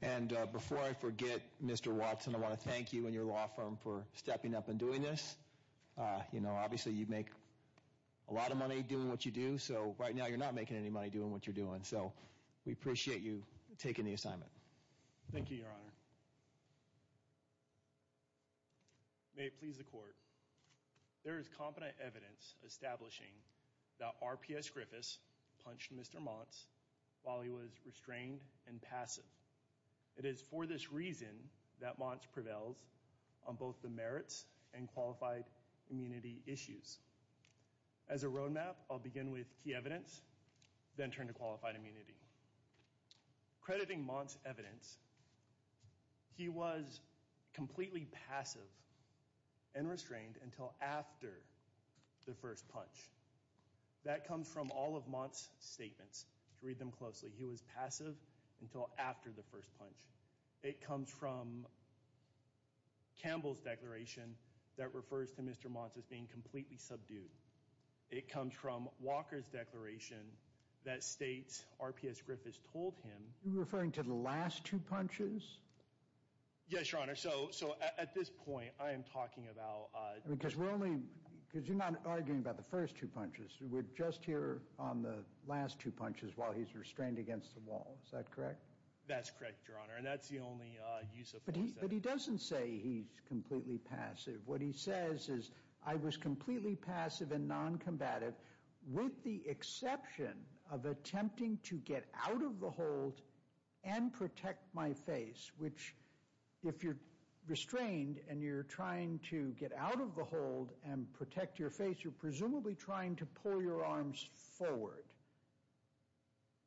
And before I forget, Mr. Walton, I want to thank you and your law firm for stepping up and doing this. You know, obviously you make a lot of money doing what you do, so right now you're not making any money doing what you're doing. So we appreciate you taking the assignment. Thank you, Your Honor. May it please the Court. There is competent evidence establishing that RPS Griffis punched Mr. Monts while he was restrained and passive. It is for this reason that Monts prevails on both the merits and qualified immunity issues. As a roadmap, I'll begin with key evidence, then turn to qualified immunity. Crediting Monts' evidence, he was completely passive and restrained until after the first punch. That comes from all of Monts' statements. Read them closely. He was passive until after the first punch. It comes from Campbell's declaration that refers to Mr. Monts as being completely subdued. It comes from Walker's declaration that states RPS Griffis told him— You're referring to the last two punches? Yes, Your Honor. So at this point, I am talking about— Because we're only—because you're not arguing about the first two punches. We're just here on the last two punches while he's restrained against the wall. Is that correct? That's correct, Your Honor, and that's the only use of force that— But he doesn't say he's completely passive. What he says is, I was completely passive and non-combative with the exception of attempting to get out of the hold and protect my face, which if you're restrained and you're trying to get out of the hold and protect your face, you're presumably trying to pull your arms forward.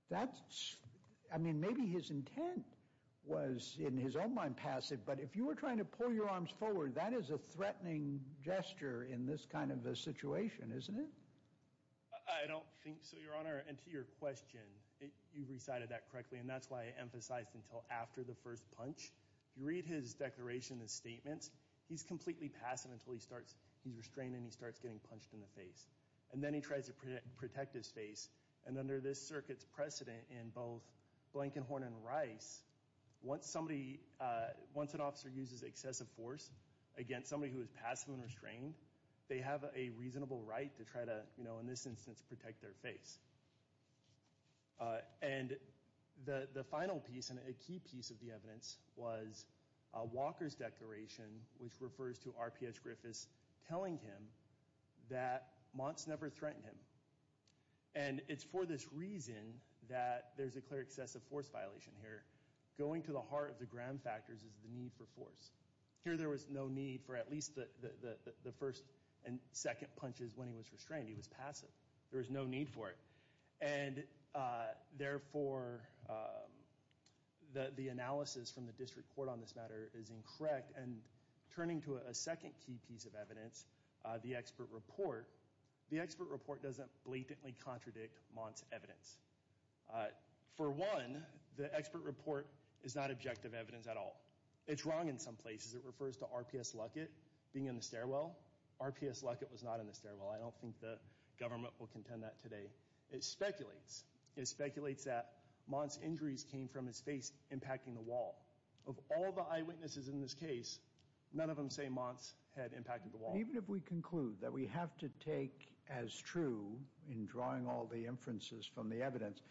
That's—I mean, maybe his intent was, in his own mind, passive, but if you were trying to pull your arms forward, that is a threatening gesture in this kind of a situation, isn't it? I don't think so, Your Honor. And to your question, you recited that correctly, and that's why I emphasized until after the first punch. If you read his declaration and statements, he's completely passive until he starts—he's restrained and he starts getting punched in the face, and then he tries to protect his face. And under this circuit's precedent in both Blankenhorn and Rice, once somebody—once an officer uses excessive force against somebody who is passive and restrained, they have a reasonable right to try to, you know, in this instance, protect their face. And the final piece and a key piece of the evidence was Walker's declaration, which refers to RPS Griffiths telling him that Monts never threatened him. And it's for this reason that there's a clear excessive force violation here. Going to the heart of the Graham factors is the need for force. Here there was no need for at least the first and second punches when he was restrained. He was passive. There was no need for it. And therefore, the analysis from the district court on this matter is incorrect. And turning to a second key piece of evidence, the expert report, the expert report doesn't blatantly contradict Monts' evidence. For one, the expert report is not objective evidence at all. It's wrong in some places. It refers to RPS Luckett being in the stairwell. RPS Luckett was not in the stairwell. I don't think the government will contend that today. It speculates. It speculates that Monts' injuries came from his face impacting the wall. Of all the eyewitnesses in this case, none of them say Monts had impacted the wall. Even if we conclude that we have to take as true, in drawing all the inferences from the evidence,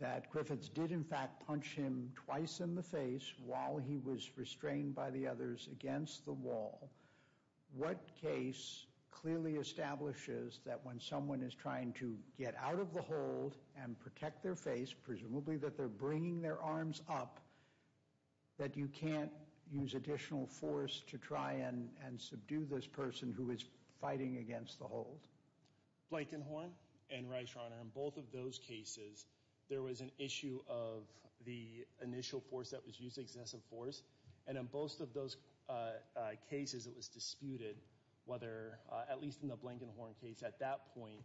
that Griffiths did in fact punch him twice in the face while he was restrained by the others against the wall, what case clearly establishes that when someone is trying to get out of the hold and protect their face, presumably that they're bringing their arms up, that you can't use additional force to try and subdue this person who is fighting against the hold? Blankenhorn and Reischreiner, in both of those cases, there was an issue of the initial force that was used, excessive force, and in both of those cases it was disputed whether, at least in the Blankenhorn case at that point,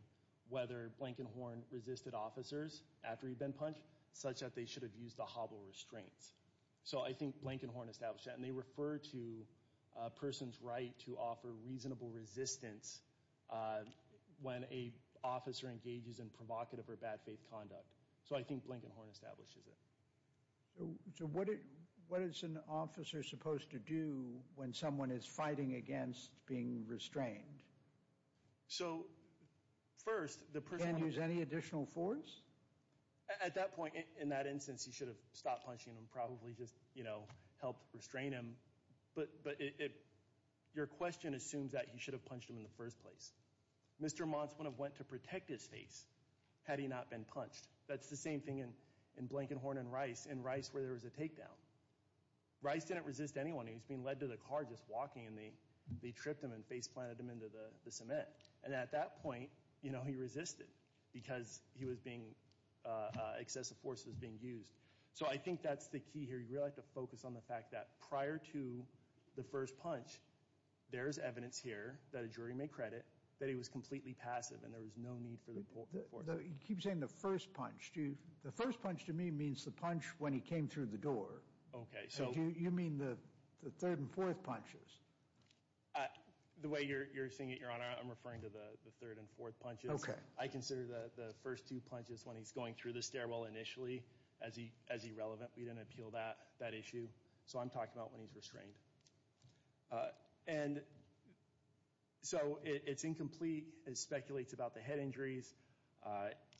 whether Blankenhorn resisted officers after he'd been punched, such that they should have used the hobble restraints. So I think Blankenhorn established that. And they refer to a person's right to offer reasonable resistance when an officer engages in provocative or bad faith conduct. So I think Blankenhorn establishes it. So what is an officer supposed to do when someone is fighting against being restrained? So first, the person— Can't use any additional force? At that point, in that instance, he should have stopped punching and probably just, you know, helped restrain him. But your question assumes that he should have punched him in the first place. Mr. Mons wouldn't have went to protect his face had he not been punched. That's the same thing in Blankenhorn and Reischreiner, in Reischreiner where there was a takedown. Reischreiner didn't resist anyone. He was being led to the car just walking, and they tripped him and face-planted him into the cement. And at that point, you know, he resisted because he was being—excessive force was being used. So I think that's the key here. You really have to focus on the fact that prior to the first punch, there is evidence here that a jury may credit that he was completely passive and there was no need for the force. You keep saying the first punch. The first punch to me means the punch when he came through the door. Okay, so— You mean the third and fourth punches? The way you're saying it, Your Honor, I'm referring to the third and fourth punches. Okay. I consider the first two punches when he's going through the stairwell initially as irrelevant. We didn't appeal that issue. So I'm talking about when he's restrained. And so it's incomplete. It speculates about the head injuries.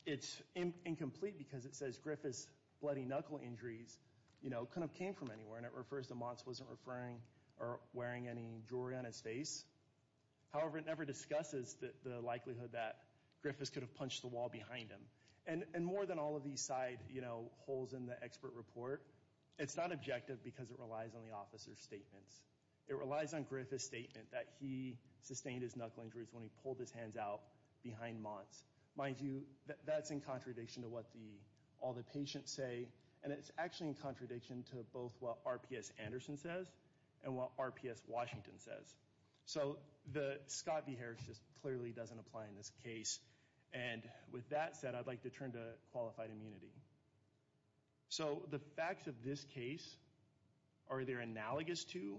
It's incomplete because it says Griffith's bloody knuckle injuries, you know, couldn't have came from anywhere. And it refers to Monts wasn't referring or wearing any jewelry on his face. However, it never discusses the likelihood that Griffiths could have punched the wall behind him. And more than all of these side, you know, holes in the expert report, it's not objective because it relies on the officer's statements. It relies on Griffith's statement that he sustained his knuckle injuries when he pulled his hands out behind Monts. Mind you, that's in contradiction to what all the patients say. And it's actually in contradiction to both what RPS Anderson says and what RPS Washington says. So the Scott v. Harris just clearly doesn't apply in this case. And with that said, I'd like to turn to qualified immunity. So the facts of this case are either analogous to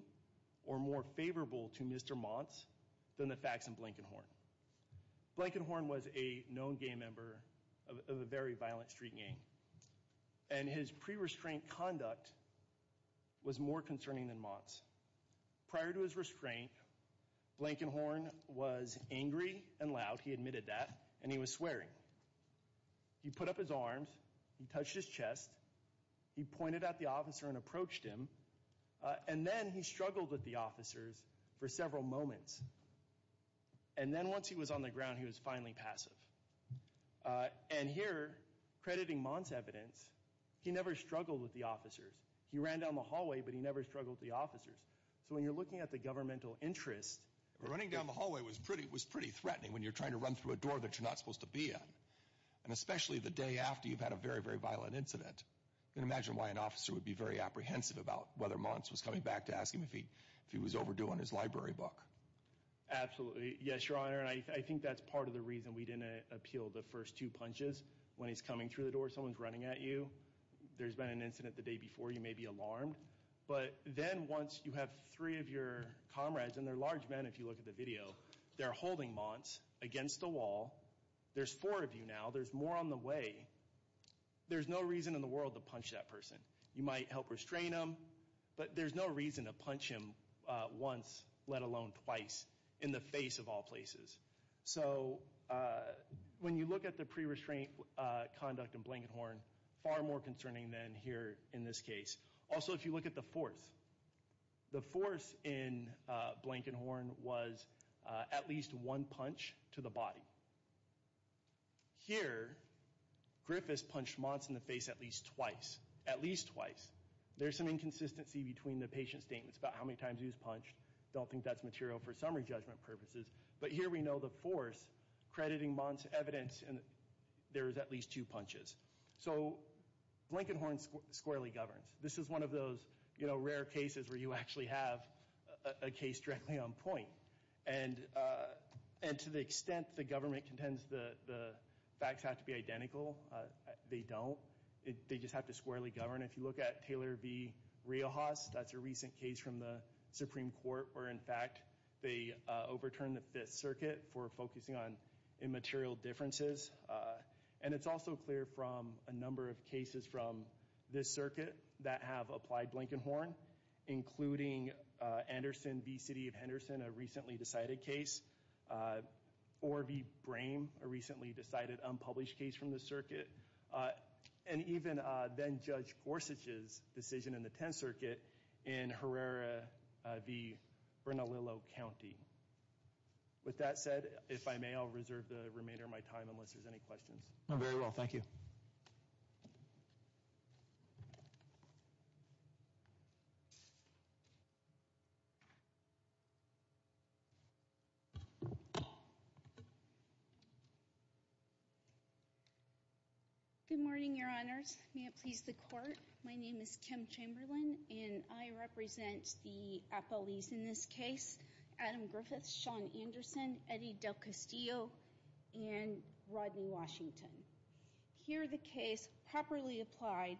or more favorable to Mr. Monts than the facts in Blankenhorn. Blankenhorn was a known gay member of a very violent street gang. And his pre-restraint conduct was more concerning than Monts. Prior to his restraint, Blankenhorn was angry and loud. He admitted that. And he was swearing. He put up his arms. He touched his chest. He pointed at the officer and approached him. And then he struggled with the officers for several moments. And then once he was on the ground, he was finally passive. And here, crediting Monts' evidence, he never struggled with the officers. He ran down the hallway, but he never struggled with the officers. So when you're looking at the governmental interest. Running down the hallway was pretty threatening when you're trying to run through a door that you're not supposed to be in. And especially the day after you've had a very, very violent incident. Can you imagine why an officer would be very apprehensive about whether Monts was coming back to ask him if he was overdue on his library book? Absolutely. Yes, Your Honor. And I think that's part of the reason we didn't appeal the first two punches. When he's coming through the door, someone's running at you. There's been an incident the day before. You may be alarmed. But then once you have three of your comrades, and they're large men if you look at the video, they're holding Monts against the wall. There's four of you now. There's more on the way. There's no reason in the world to punch that person. You might help restrain them, but there's no reason to punch him once, let alone twice, in the face of all places. So when you look at the pre-restraint conduct in Blankenhorn, far more concerning than here in this case. Also, if you look at the force, the force in Blankenhorn was at least one punch to the body. Here, Griffis punched Monts in the face at least twice. At least twice. There's some inconsistency between the patient's statements about how many times he was punched. I don't think that's material for summary judgment purposes. But here we know the force crediting Monts' evidence, and there was at least two punches. So Blankenhorn squarely governs. This is one of those rare cases where you actually have a case directly on point. And to the extent the government contends the facts have to be identical, they don't. They just have to squarely govern. If you look at Taylor v. Riojas, that's a recent case from the Supreme Court where, in fact, they overturned the Fifth Circuit for focusing on immaterial differences. And it's also clear from a number of cases from this circuit that have applied Blankenhorn, including Anderson v. City of Henderson, a recently decided case, or v. Brame, a recently decided unpublished case from the circuit, and even then-Judge Gorsuch's decision in the Tenth Circuit in Herrera v. Bernalillo County. With that said, if I may, I'll reserve the remainder of my time unless there's any questions. No, very well. Thank you. Good morning, Your Honors. May it please the Court. My name is Kim Chamberlain, and I represent the appellees in this case. Adam Griffiths, Sean Anderson, Eddie Del Castillo, and Rodney Washington. Here are the case properly applied,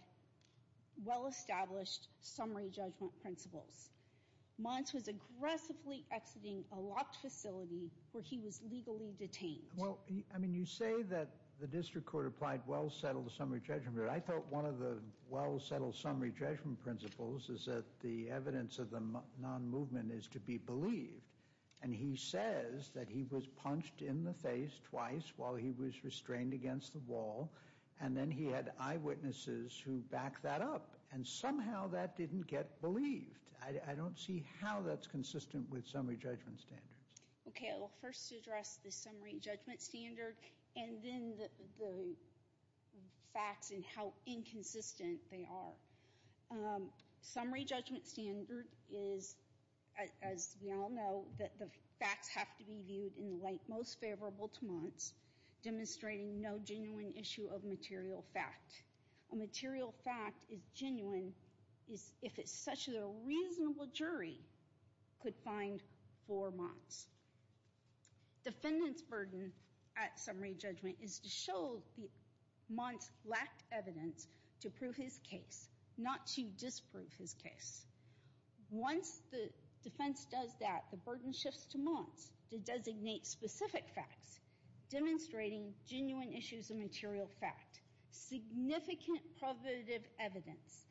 well-established summary judgment principles. Mons was aggressively exiting a locked facility where he was legally detained. Well, I mean, you say that the district court applied well-settled summary judgment. I thought one of the well-settled summary judgment principles is that the evidence of the non-movement is to be believed. And he says that he was punched in the face twice while he was restrained against the wall, and then he had eyewitnesses who backed that up. And somehow that didn't get believed. I don't see how that's consistent with summary judgment standards. Okay, I will first address the summary judgment standard and then the facts and how inconsistent they are. Summary judgment standard is, as we all know, that the facts have to be viewed in the light most favorable to Mons, demonstrating no genuine issue of material fact. A material fact is genuine if it's such that a reasonable jury could find for Mons. Defendant's burden at summary judgment is to show that Mons lacked evidence to prove his case, not to disprove his case. Once the defense does that, the burden shifts to Mons to designate specific facts, demonstrating genuine issues of material fact, significant probative evidence,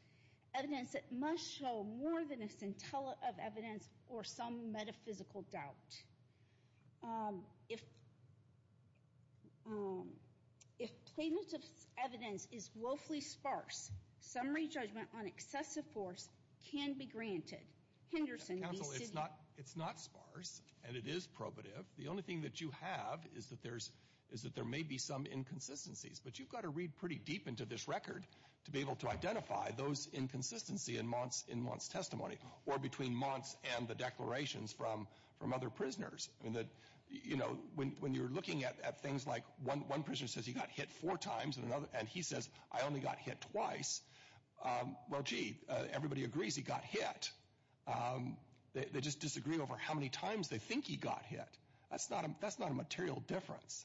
evidence that must show more than a scintilla of evidence or some metaphysical doubt. If plaintiff's evidence is woefully sparse, summary judgment on excessive force can be granted. Henderson, be seated. Counsel, it's not sparse and it is probative. The only thing that you have is that there may be some inconsistencies, but you've got to read pretty deep into this record to be able to identify those inconsistencies in Mons' testimony or between Mons and the declarations from other prisoners. When you're looking at things like one prisoner says he got hit four times and he says, I only got hit twice, well, gee, everybody agrees he got hit. They just disagree over how many times they think he got hit. That's not a material difference.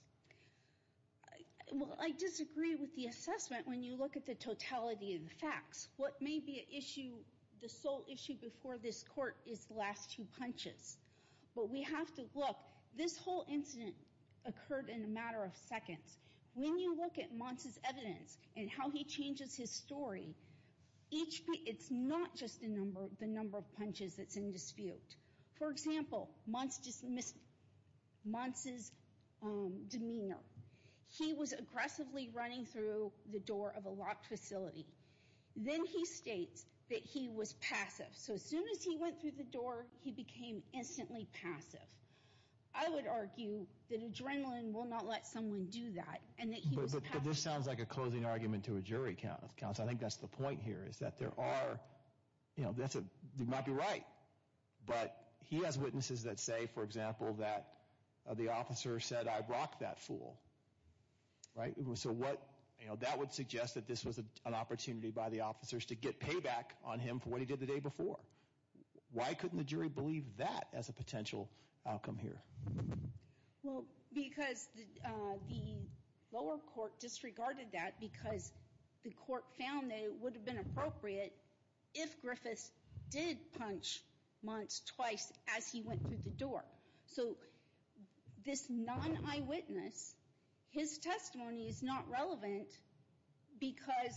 Well, I disagree with the assessment when you look at the totality of the facts. What may be the sole issue before this court is the last two punches, but we have to look. When you look at Mons' evidence and how he changes his story, it's not just the number of punches that's in dispute. For example, Mons' demeanor. He was aggressively running through the door of a locked facility. Then he states that he was passive. So as soon as he went through the door, he became instantly passive. I would argue that adrenaline will not let someone do that and that he was passive. But this sounds like a closing argument to a jury, counsel. I think that's the point here is that there are, you know, you might be right, but he has witnesses that say, for example, that the officer said, I rocked that fool. So that would suggest that this was an opportunity by the officers to get payback on him for what he did the day before. Why couldn't the jury believe that as a potential outcome here? Well, because the lower court disregarded that because the court found that it would have been appropriate if Griffiths did punch Mons twice as he went through the door. So this non-eyewitness, his testimony is not relevant because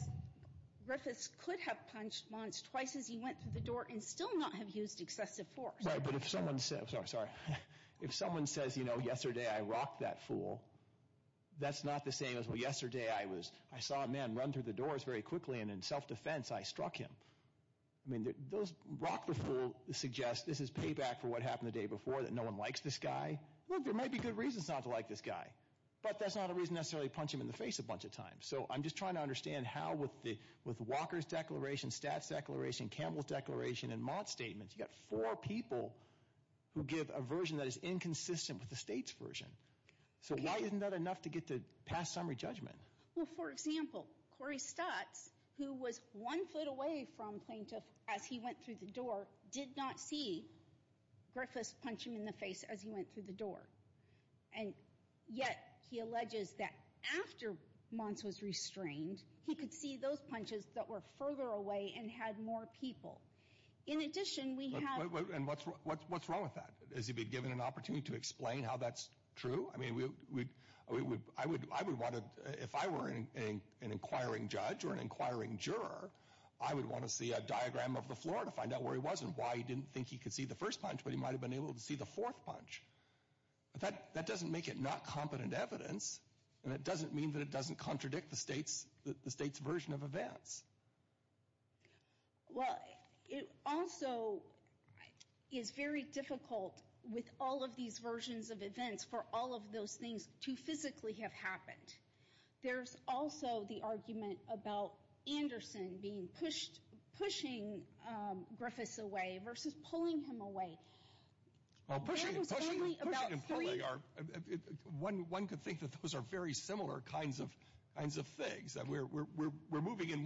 Griffiths could have punched Mons twice as he went through the door and still not have used excessive force. But if someone says, you know, yesterday I rocked that fool, that's not the same as, well, yesterday I was, I saw a man run through the doors very quickly and in self-defense I struck him. I mean, those, rock the fool suggests this is payback for what happened the day before, that no one likes this guy. Look, there might be good reasons not to like this guy, but that's not a reason necessarily to punch him in the face a bunch of times. So I'm just trying to understand how with Walker's declaration, Statz's declaration, Campbell's declaration, and Mons statements, you've got four people who give a version that is inconsistent with the state's version. So why isn't that enough to get to past summary judgment? Well, for example, Corey Statz, who was one foot away from Plaintiff as he went through the door, did not see Griffiths punch him in the face as he went through the door. And yet he alleges that after Mons was restrained, he could see those punches that were further away and had more people. In addition, we have... And what's wrong with that? Has he been given an opportunity to explain how that's true? I mean, I would want to, if I were an inquiring judge or an inquiring juror, I would want to see a diagram of the floor to find out where he was and why he didn't think he could see the first punch, but he might have been able to see the fourth punch. That doesn't make it not competent evidence, and it doesn't mean that it doesn't contradict the state's version of events. Well, it also is very difficult with all of these versions of events for all of those things to physically have happened. There's also the argument about Anderson being pushed, pushing Griffiths away versus pulling him away. Well, pushing and pulling, one could think that those are very similar kinds of things. We're moving in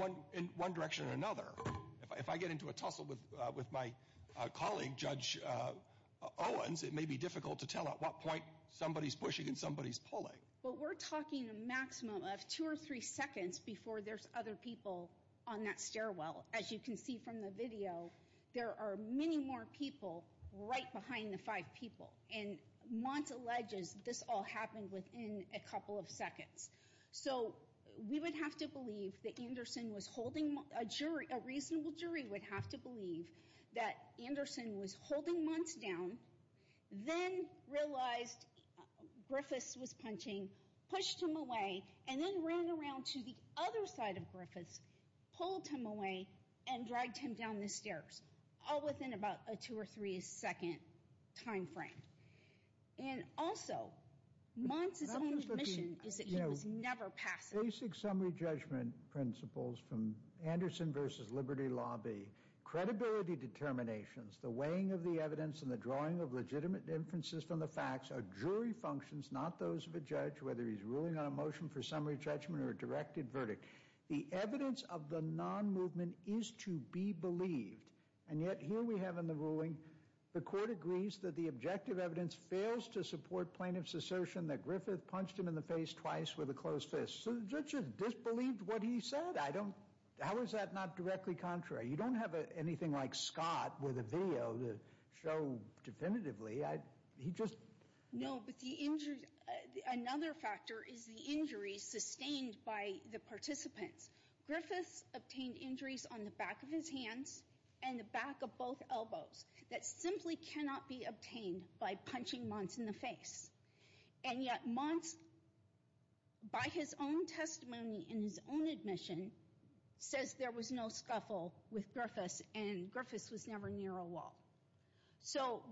one direction or another. If I get into a tussle with my colleague, Judge Owens, it may be difficult to tell at what point somebody's pushing and somebody's pulling. Well, we're talking a maximum of two or three seconds before there's other people on that stairwell. As you can see from the video, there are many more people right behind the five people, and Mont alleges this all happened within a couple of seconds. So we would have to believe that Anderson was holding Mont. A reasonable jury would have to believe that Anderson was holding Mont down, then realized Griffiths was punching, pushed him away, and then ran around to the other side of Griffiths, pulled him away, and dragged him down the stairs, all within about a two or three second time frame. And also, Mont's only admission is that he was never passive. Basic summary judgment principles from Anderson versus Liberty Lobby, credibility determinations, the weighing of the evidence, and the drawing of legitimate inferences from the facts are jury functions, not those of a judge, whether he's ruling on a motion for summary judgment or a directed verdict. The evidence of the non-movement is to be believed, and yet here we have in the ruling, the court agrees that the objective evidence fails to support plaintiff's assertion that Griffith punched him in the face twice with a closed fist. So the judge has disbelieved what he said. I don't, how is that not directly contrary? You don't have anything like Scott with a video to show definitively. No, but the injury, another factor is the injury sustained by the participants. Griffiths obtained injuries on the back of his hands and the back of both elbows that simply cannot be obtained by punching Monts in the face. And yet Monts, by his own testimony in his own admission, says there was no scuffle with Griffiths, and Griffiths was never near a wall. So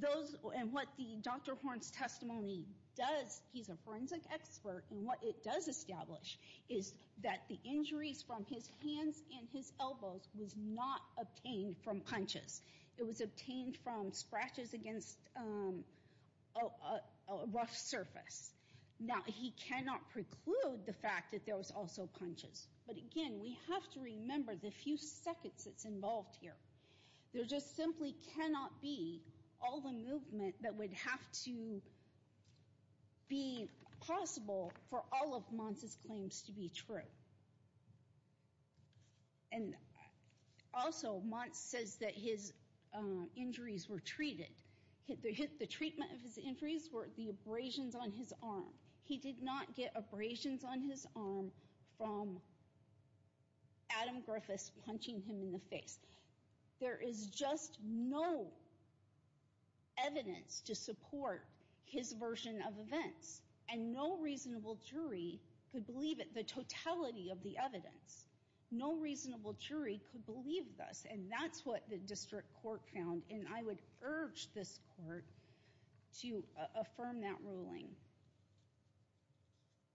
those, and what Dr. Horn's testimony does, he's a forensic expert, and what it does establish is that the injuries from his hands and his elbows was not obtained from punches. It was obtained from scratches against a rough surface. Now, he cannot preclude the fact that there was also punches. But again, we have to remember the few seconds that's involved here. There just simply cannot be all the movement that would have to be possible for all of Monts' claims to be true. And also, Monts says that his injuries were treated. The treatment of his injuries were the abrasions on his arm. He did not get abrasions on his arm from Adam Griffiths punching him in the face. There is just no evidence to support his version of events, and no reasonable jury could believe it, the totality of the evidence. No reasonable jury could believe this, and that's what the district court found, and I would urge this court to affirm that ruling.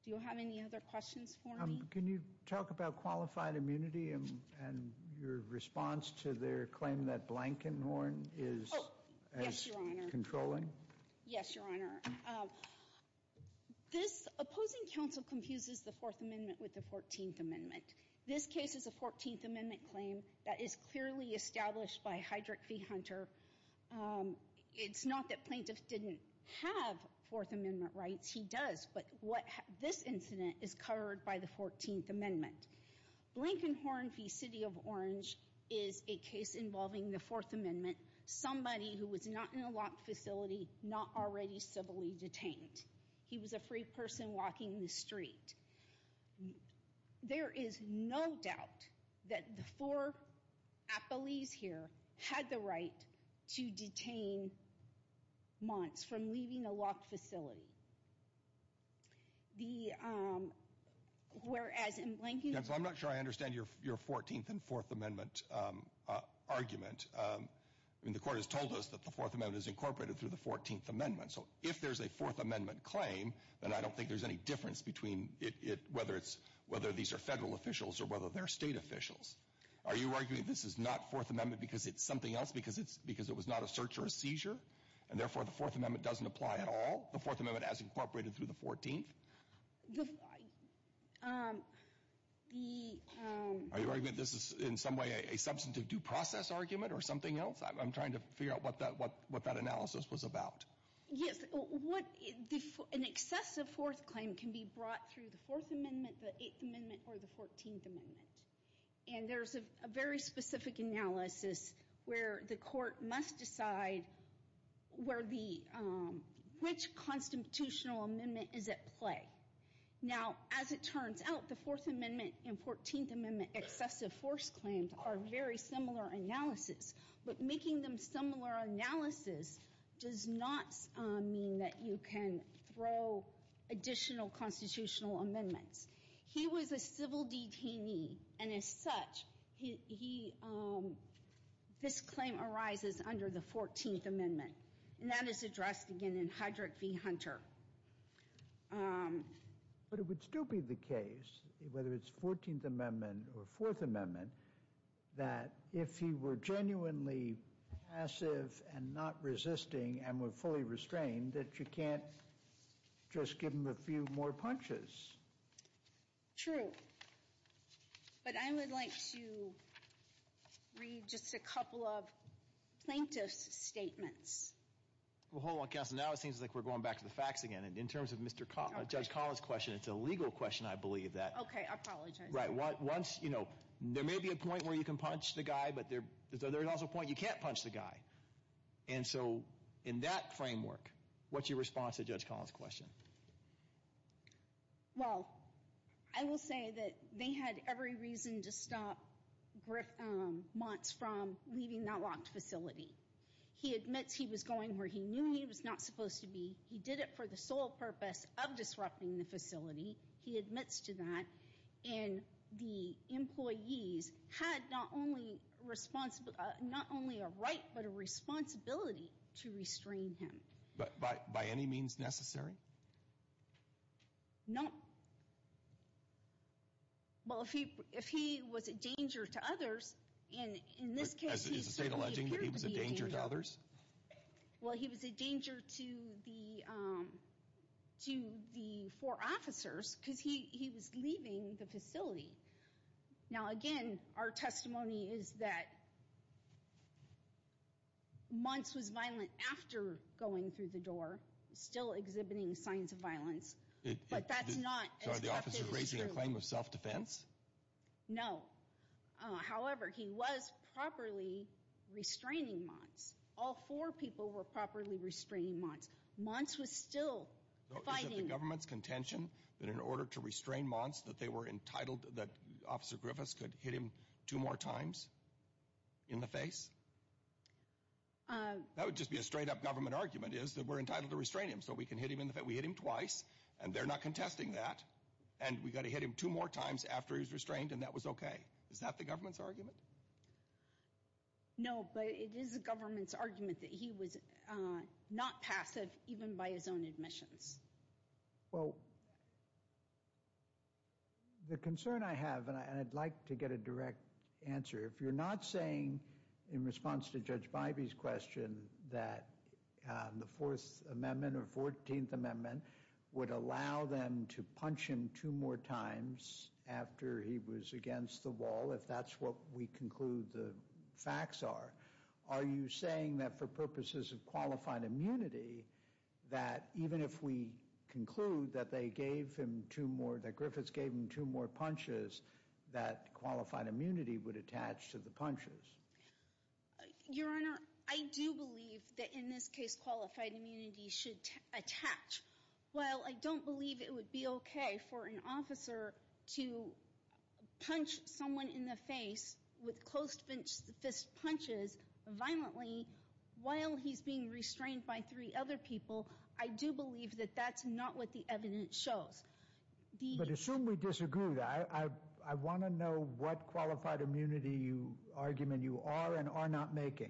Do you have any other questions for me? Can you talk about qualified immunity and your response to their claim that Blankenhorn is as controlling? Yes, Your Honor. This opposing counsel confuses the Fourth Amendment with the Fourteenth Amendment. This case is a Fourteenth Amendment claim that is clearly established by Heydrich v. Hunter. It's not that plaintiffs didn't have Fourth Amendment rights. He does, but this incident is covered by the Fourteenth Amendment. Blankenhorn v. City of Orange is a case involving the Fourth Amendment, somebody who was not in a locked facility, not already civilly detained. He was a free person walking the street. There is no doubt that the four appellees here had the right to detain Monts from leaving a locked facility, whereas in Blankenhorn's case— Counsel, I'm not sure I understand your Fourteenth and Fourth Amendment argument. The court has told us that the Fourth Amendment is incorporated through the Fourteenth Amendment, so if there's a Fourth Amendment claim, then I don't think there's any difference between whether these are federal officials or whether they're state officials. Are you arguing this is not Fourth Amendment because it's something else, because it was not a search or a seizure, and therefore the Fourth Amendment doesn't apply at all, the Fourth Amendment as incorporated through the Fourteenth? Are you arguing this is in some way a substantive due process argument or something else? I'm trying to figure out what that analysis was about. Yes. An excessive Fourth Claim can be brought through the Fourth Amendment, the Eighth Amendment, or the Fourteenth Amendment. And there's a very specific analysis where the court must decide which constitutional amendment is at play. Now, as it turns out, the Fourth Amendment and Fourteenth Amendment excessive force claims are very similar analysis, but making them similar analysis does not mean that you can throw additional constitutional amendments. He was a civil detainee, and as such, this claim arises under the Fourteenth Amendment, and that is addressed again in Hedrick v. Hunter. But it would still be the case, whether it's Fourteenth Amendment or Fourth Amendment, that if he were genuinely passive and not resisting and were fully restrained, that you can't just give him a few more punches. True. But I would like to read just a couple of plaintiff's statements. Well, hold on, Counselor. Now it seems like we're going back to the facts again. In terms of Judge Collins' question, it's a legal question, I believe. Okay. I apologize. Right. Once, you know, there may be a point where you can punch the guy, but there's also a point you can't punch the guy. And so in that framework, what's your response to Judge Collins' question? Well, I will say that they had every reason to stop Griff Montz from leaving that locked facility. He admits he was going where he knew he was not supposed to be. He did it for the sole purpose of disrupting the facility. He admits to that. And the employees had not only a right but a responsibility to restrain him. By any means necessary? No. Well, if he was a danger to others, in this case, he certainly appeared to be. He was a danger to others? Well, he was a danger to the four officers because he was leaving the facility. Now, again, our testimony is that Montz was violent after going through the door, still exhibiting signs of violence, but that's not as effective as he really was. So are the officers raising a claim of self-defense? No. However, he was properly restraining Montz. All four people were properly restraining Montz. Montz was still fighting. So is it the government's contention that in order to restrain Montz, that they were entitled, that Officer Griffiths could hit him two more times in the face? That would just be a straight-up government argument, is that we're entitled to restrain him so we can hit him twice, and they're not contesting that, and we've got to hit him two more times after he's restrained, and that was okay. Is that the government's argument? No, but it is the government's argument that he was not passive even by his own admissions. Well, the concern I have, and I'd like to get a direct answer, if you're not saying in response to Judge Bybee's question that the Fourth Amendment or Fourteenth Amendment would allow them to punch him two more times after he was against the wall, if that's what we conclude the facts are, are you saying that for purposes of qualified immunity, that even if we conclude that they gave him two more, that Griffiths gave him two more punches, that qualified immunity would attach to the punches? Your Honor, I do believe that in this case qualified immunity should attach. While I don't believe it would be okay for an officer to punch someone in the face with close fist punches violently while he's being restrained by three other people, I do believe that that's not what the evidence shows. But assume we disagree with that. I want to know what qualified immunity argument you are and are not making.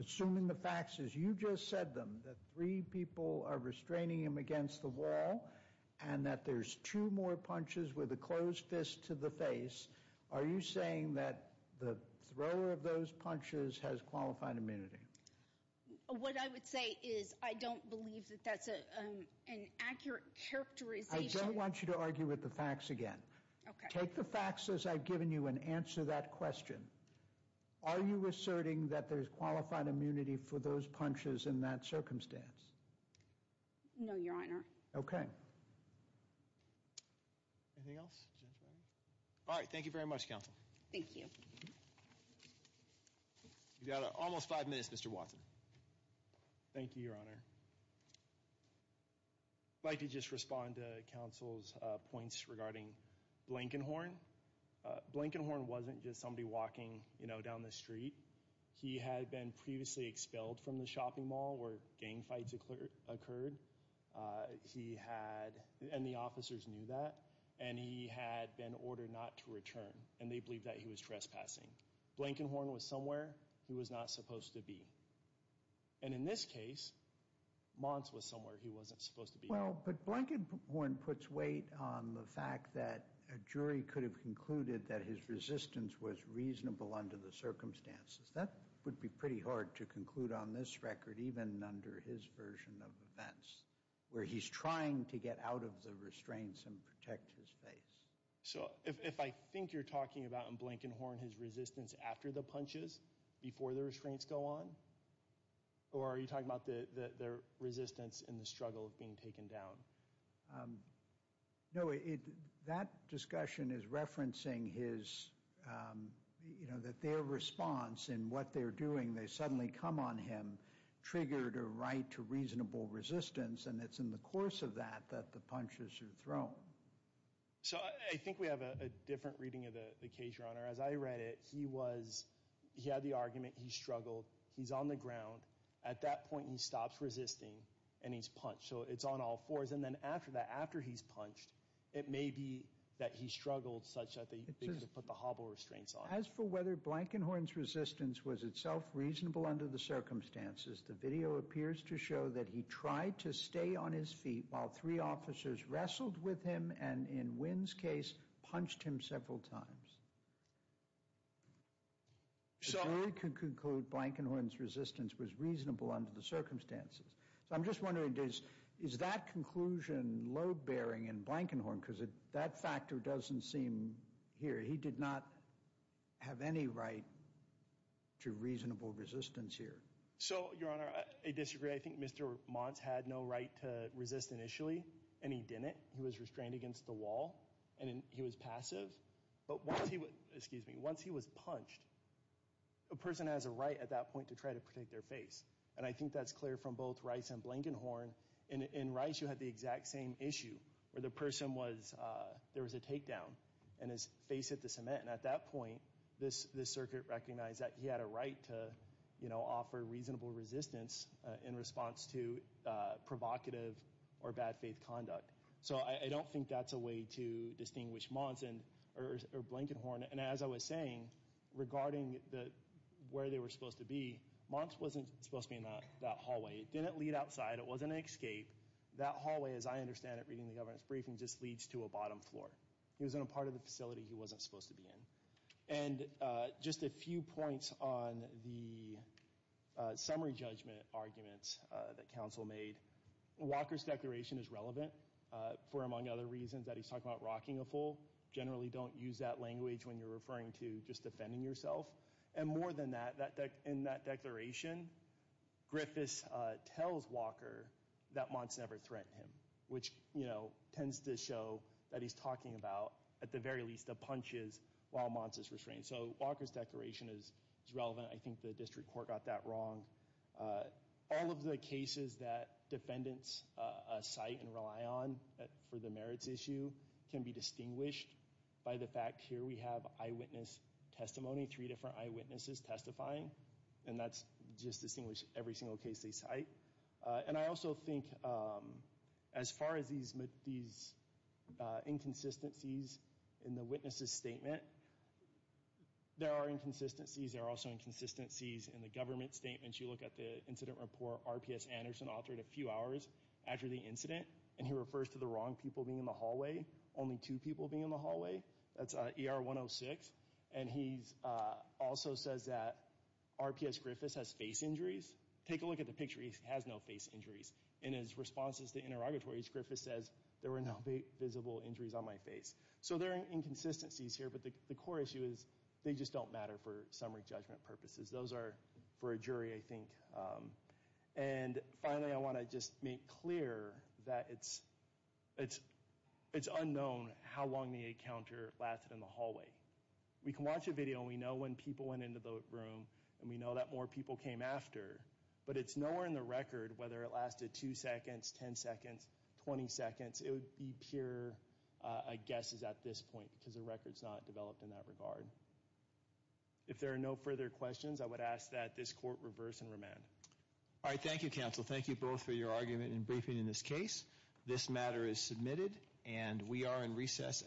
Assuming the facts as you just said them, that three people are restraining him against the wall and that there's two more punches with a closed fist to the face, are you saying that the thrower of those punches has qualified immunity? What I would say is I don't believe that that's an accurate characterization. I don't want you to argue with the facts again. Okay. Take the facts as I've given you and answer that question. Are you asserting that there's qualified immunity for those punches in that circumstance? No, Your Honor. Okay. Anything else? All right, thank you very much, Counsel. Thank you. You've got almost five minutes, Mr. Watson. Thank you, Your Honor. I'd like to just respond to Counsel's points regarding Blankenhorn. Blankenhorn wasn't just somebody walking, you know, down the street. He had been previously expelled from the shopping mall where gang fights occurred. He had, and the officers knew that, and he had been ordered not to return, and they believed that he was trespassing. Blankenhorn was somewhere he was not supposed to be. And in this case, Mons was somewhere he wasn't supposed to be. Well, but Blankenhorn puts weight on the fact that a jury could have concluded that his resistance was reasonable under the circumstances. That would be pretty hard to conclude on this record, even under his version of events, where he's trying to get out of the restraints and protect his face. So if I think you're talking about in Blankenhorn his resistance after the punches, before the restraints go on, or are you talking about their resistance in the struggle of being taken down? No, that discussion is referencing his, you know, that their response in what they're doing, they suddenly come on him, triggered a right to reasonable resistance, and it's in the course of that that the punches are thrown. So I think we have a different reading of the case, Your Honor. As I read it, he had the argument, he struggled, he's on the ground. At that point, he stops resisting, and he's punched. So it's on all fours. And then after that, after he's punched, it may be that he struggled such that they put the hobble restraints on. As for whether Blankenhorn's resistance was itself reasonable under the circumstances, the video appears to show that he tried to stay on his feet while three officers wrestled with him and, in Wynn's case, punched him several times. So we could conclude Blankenhorn's resistance was reasonable under the circumstances. So I'm just wondering, is that conclusion load-bearing in Blankenhorn? Because that factor doesn't seem here. He did not have any right to reasonable resistance here. So, Your Honor, I disagree. I think Mr. Mons had no right to resist initially, and he didn't. He was restrained against the wall, and he was passive. But once he was punched, a person has a right at that point to try to protect their face. And I think that's clear from both Rice and Blankenhorn. In Rice, you had the exact same issue, where the person was— there was a takedown, and his face hit the cement. And at that point, this circuit recognized that he had a right to offer reasonable resistance in response to provocative or bad faith conduct. So I don't think that's a way to distinguish Blankenhorn. And as I was saying, regarding where they were supposed to be, Mons wasn't supposed to be in that hallway. It didn't lead outside. It wasn't an escape. That hallway, as I understand it reading the governance briefing, just leads to a bottom floor. He was in a part of the facility he wasn't supposed to be in. And just a few points on the summary judgment arguments that counsel made. Walker's declaration is relevant for, among other reasons, that he's talking about rocking a fool. Generally don't use that language when you're referring to just defending yourself. And more than that, in that declaration, Griffis tells Walker that Mons never threatened him, which tends to show that he's talking about, at the very least, the punches while Mons is restrained. So Walker's declaration is relevant. I think the district court got that wrong. All of the cases that defendants cite and rely on for the merits issue can be distinguished by the fact here we have eyewitness testimony, three different eyewitnesses testifying. And that's just distinguished every single case they cite. And I also think as far as these inconsistencies in the witnesses' statement, there are inconsistencies. There are also inconsistencies in the government statements. You look at the incident report RPS Anderson authored a few hours after the incident, and he refers to the wrong people being in the hallway, only two people being in the hallway. That's ER 106. And he also says that RPS Griffis has face injuries. Take a look at the picture. He has no face injuries. In his responses to interrogatories, Griffis says, there were no visible injuries on my face. So there are inconsistencies here, but the core issue is they just don't matter for summary judgment purposes. Those are for a jury, I think. And finally, I want to just make clear that it's unknown how long the encounter lasted in the hallway. We can watch a video, and we know when people went into the room, and we know that more people came after. But it's nowhere in the record whether it lasted two seconds, ten seconds, twenty seconds. It would be pure guesses at this point because the record's not developed in that regard. If there are no further questions, I would ask that this court reverse and remand. All right. Thank you, counsel. Thank you both for your argument and briefing in this case. This matter is submitted, and we are in recess until tomorrow.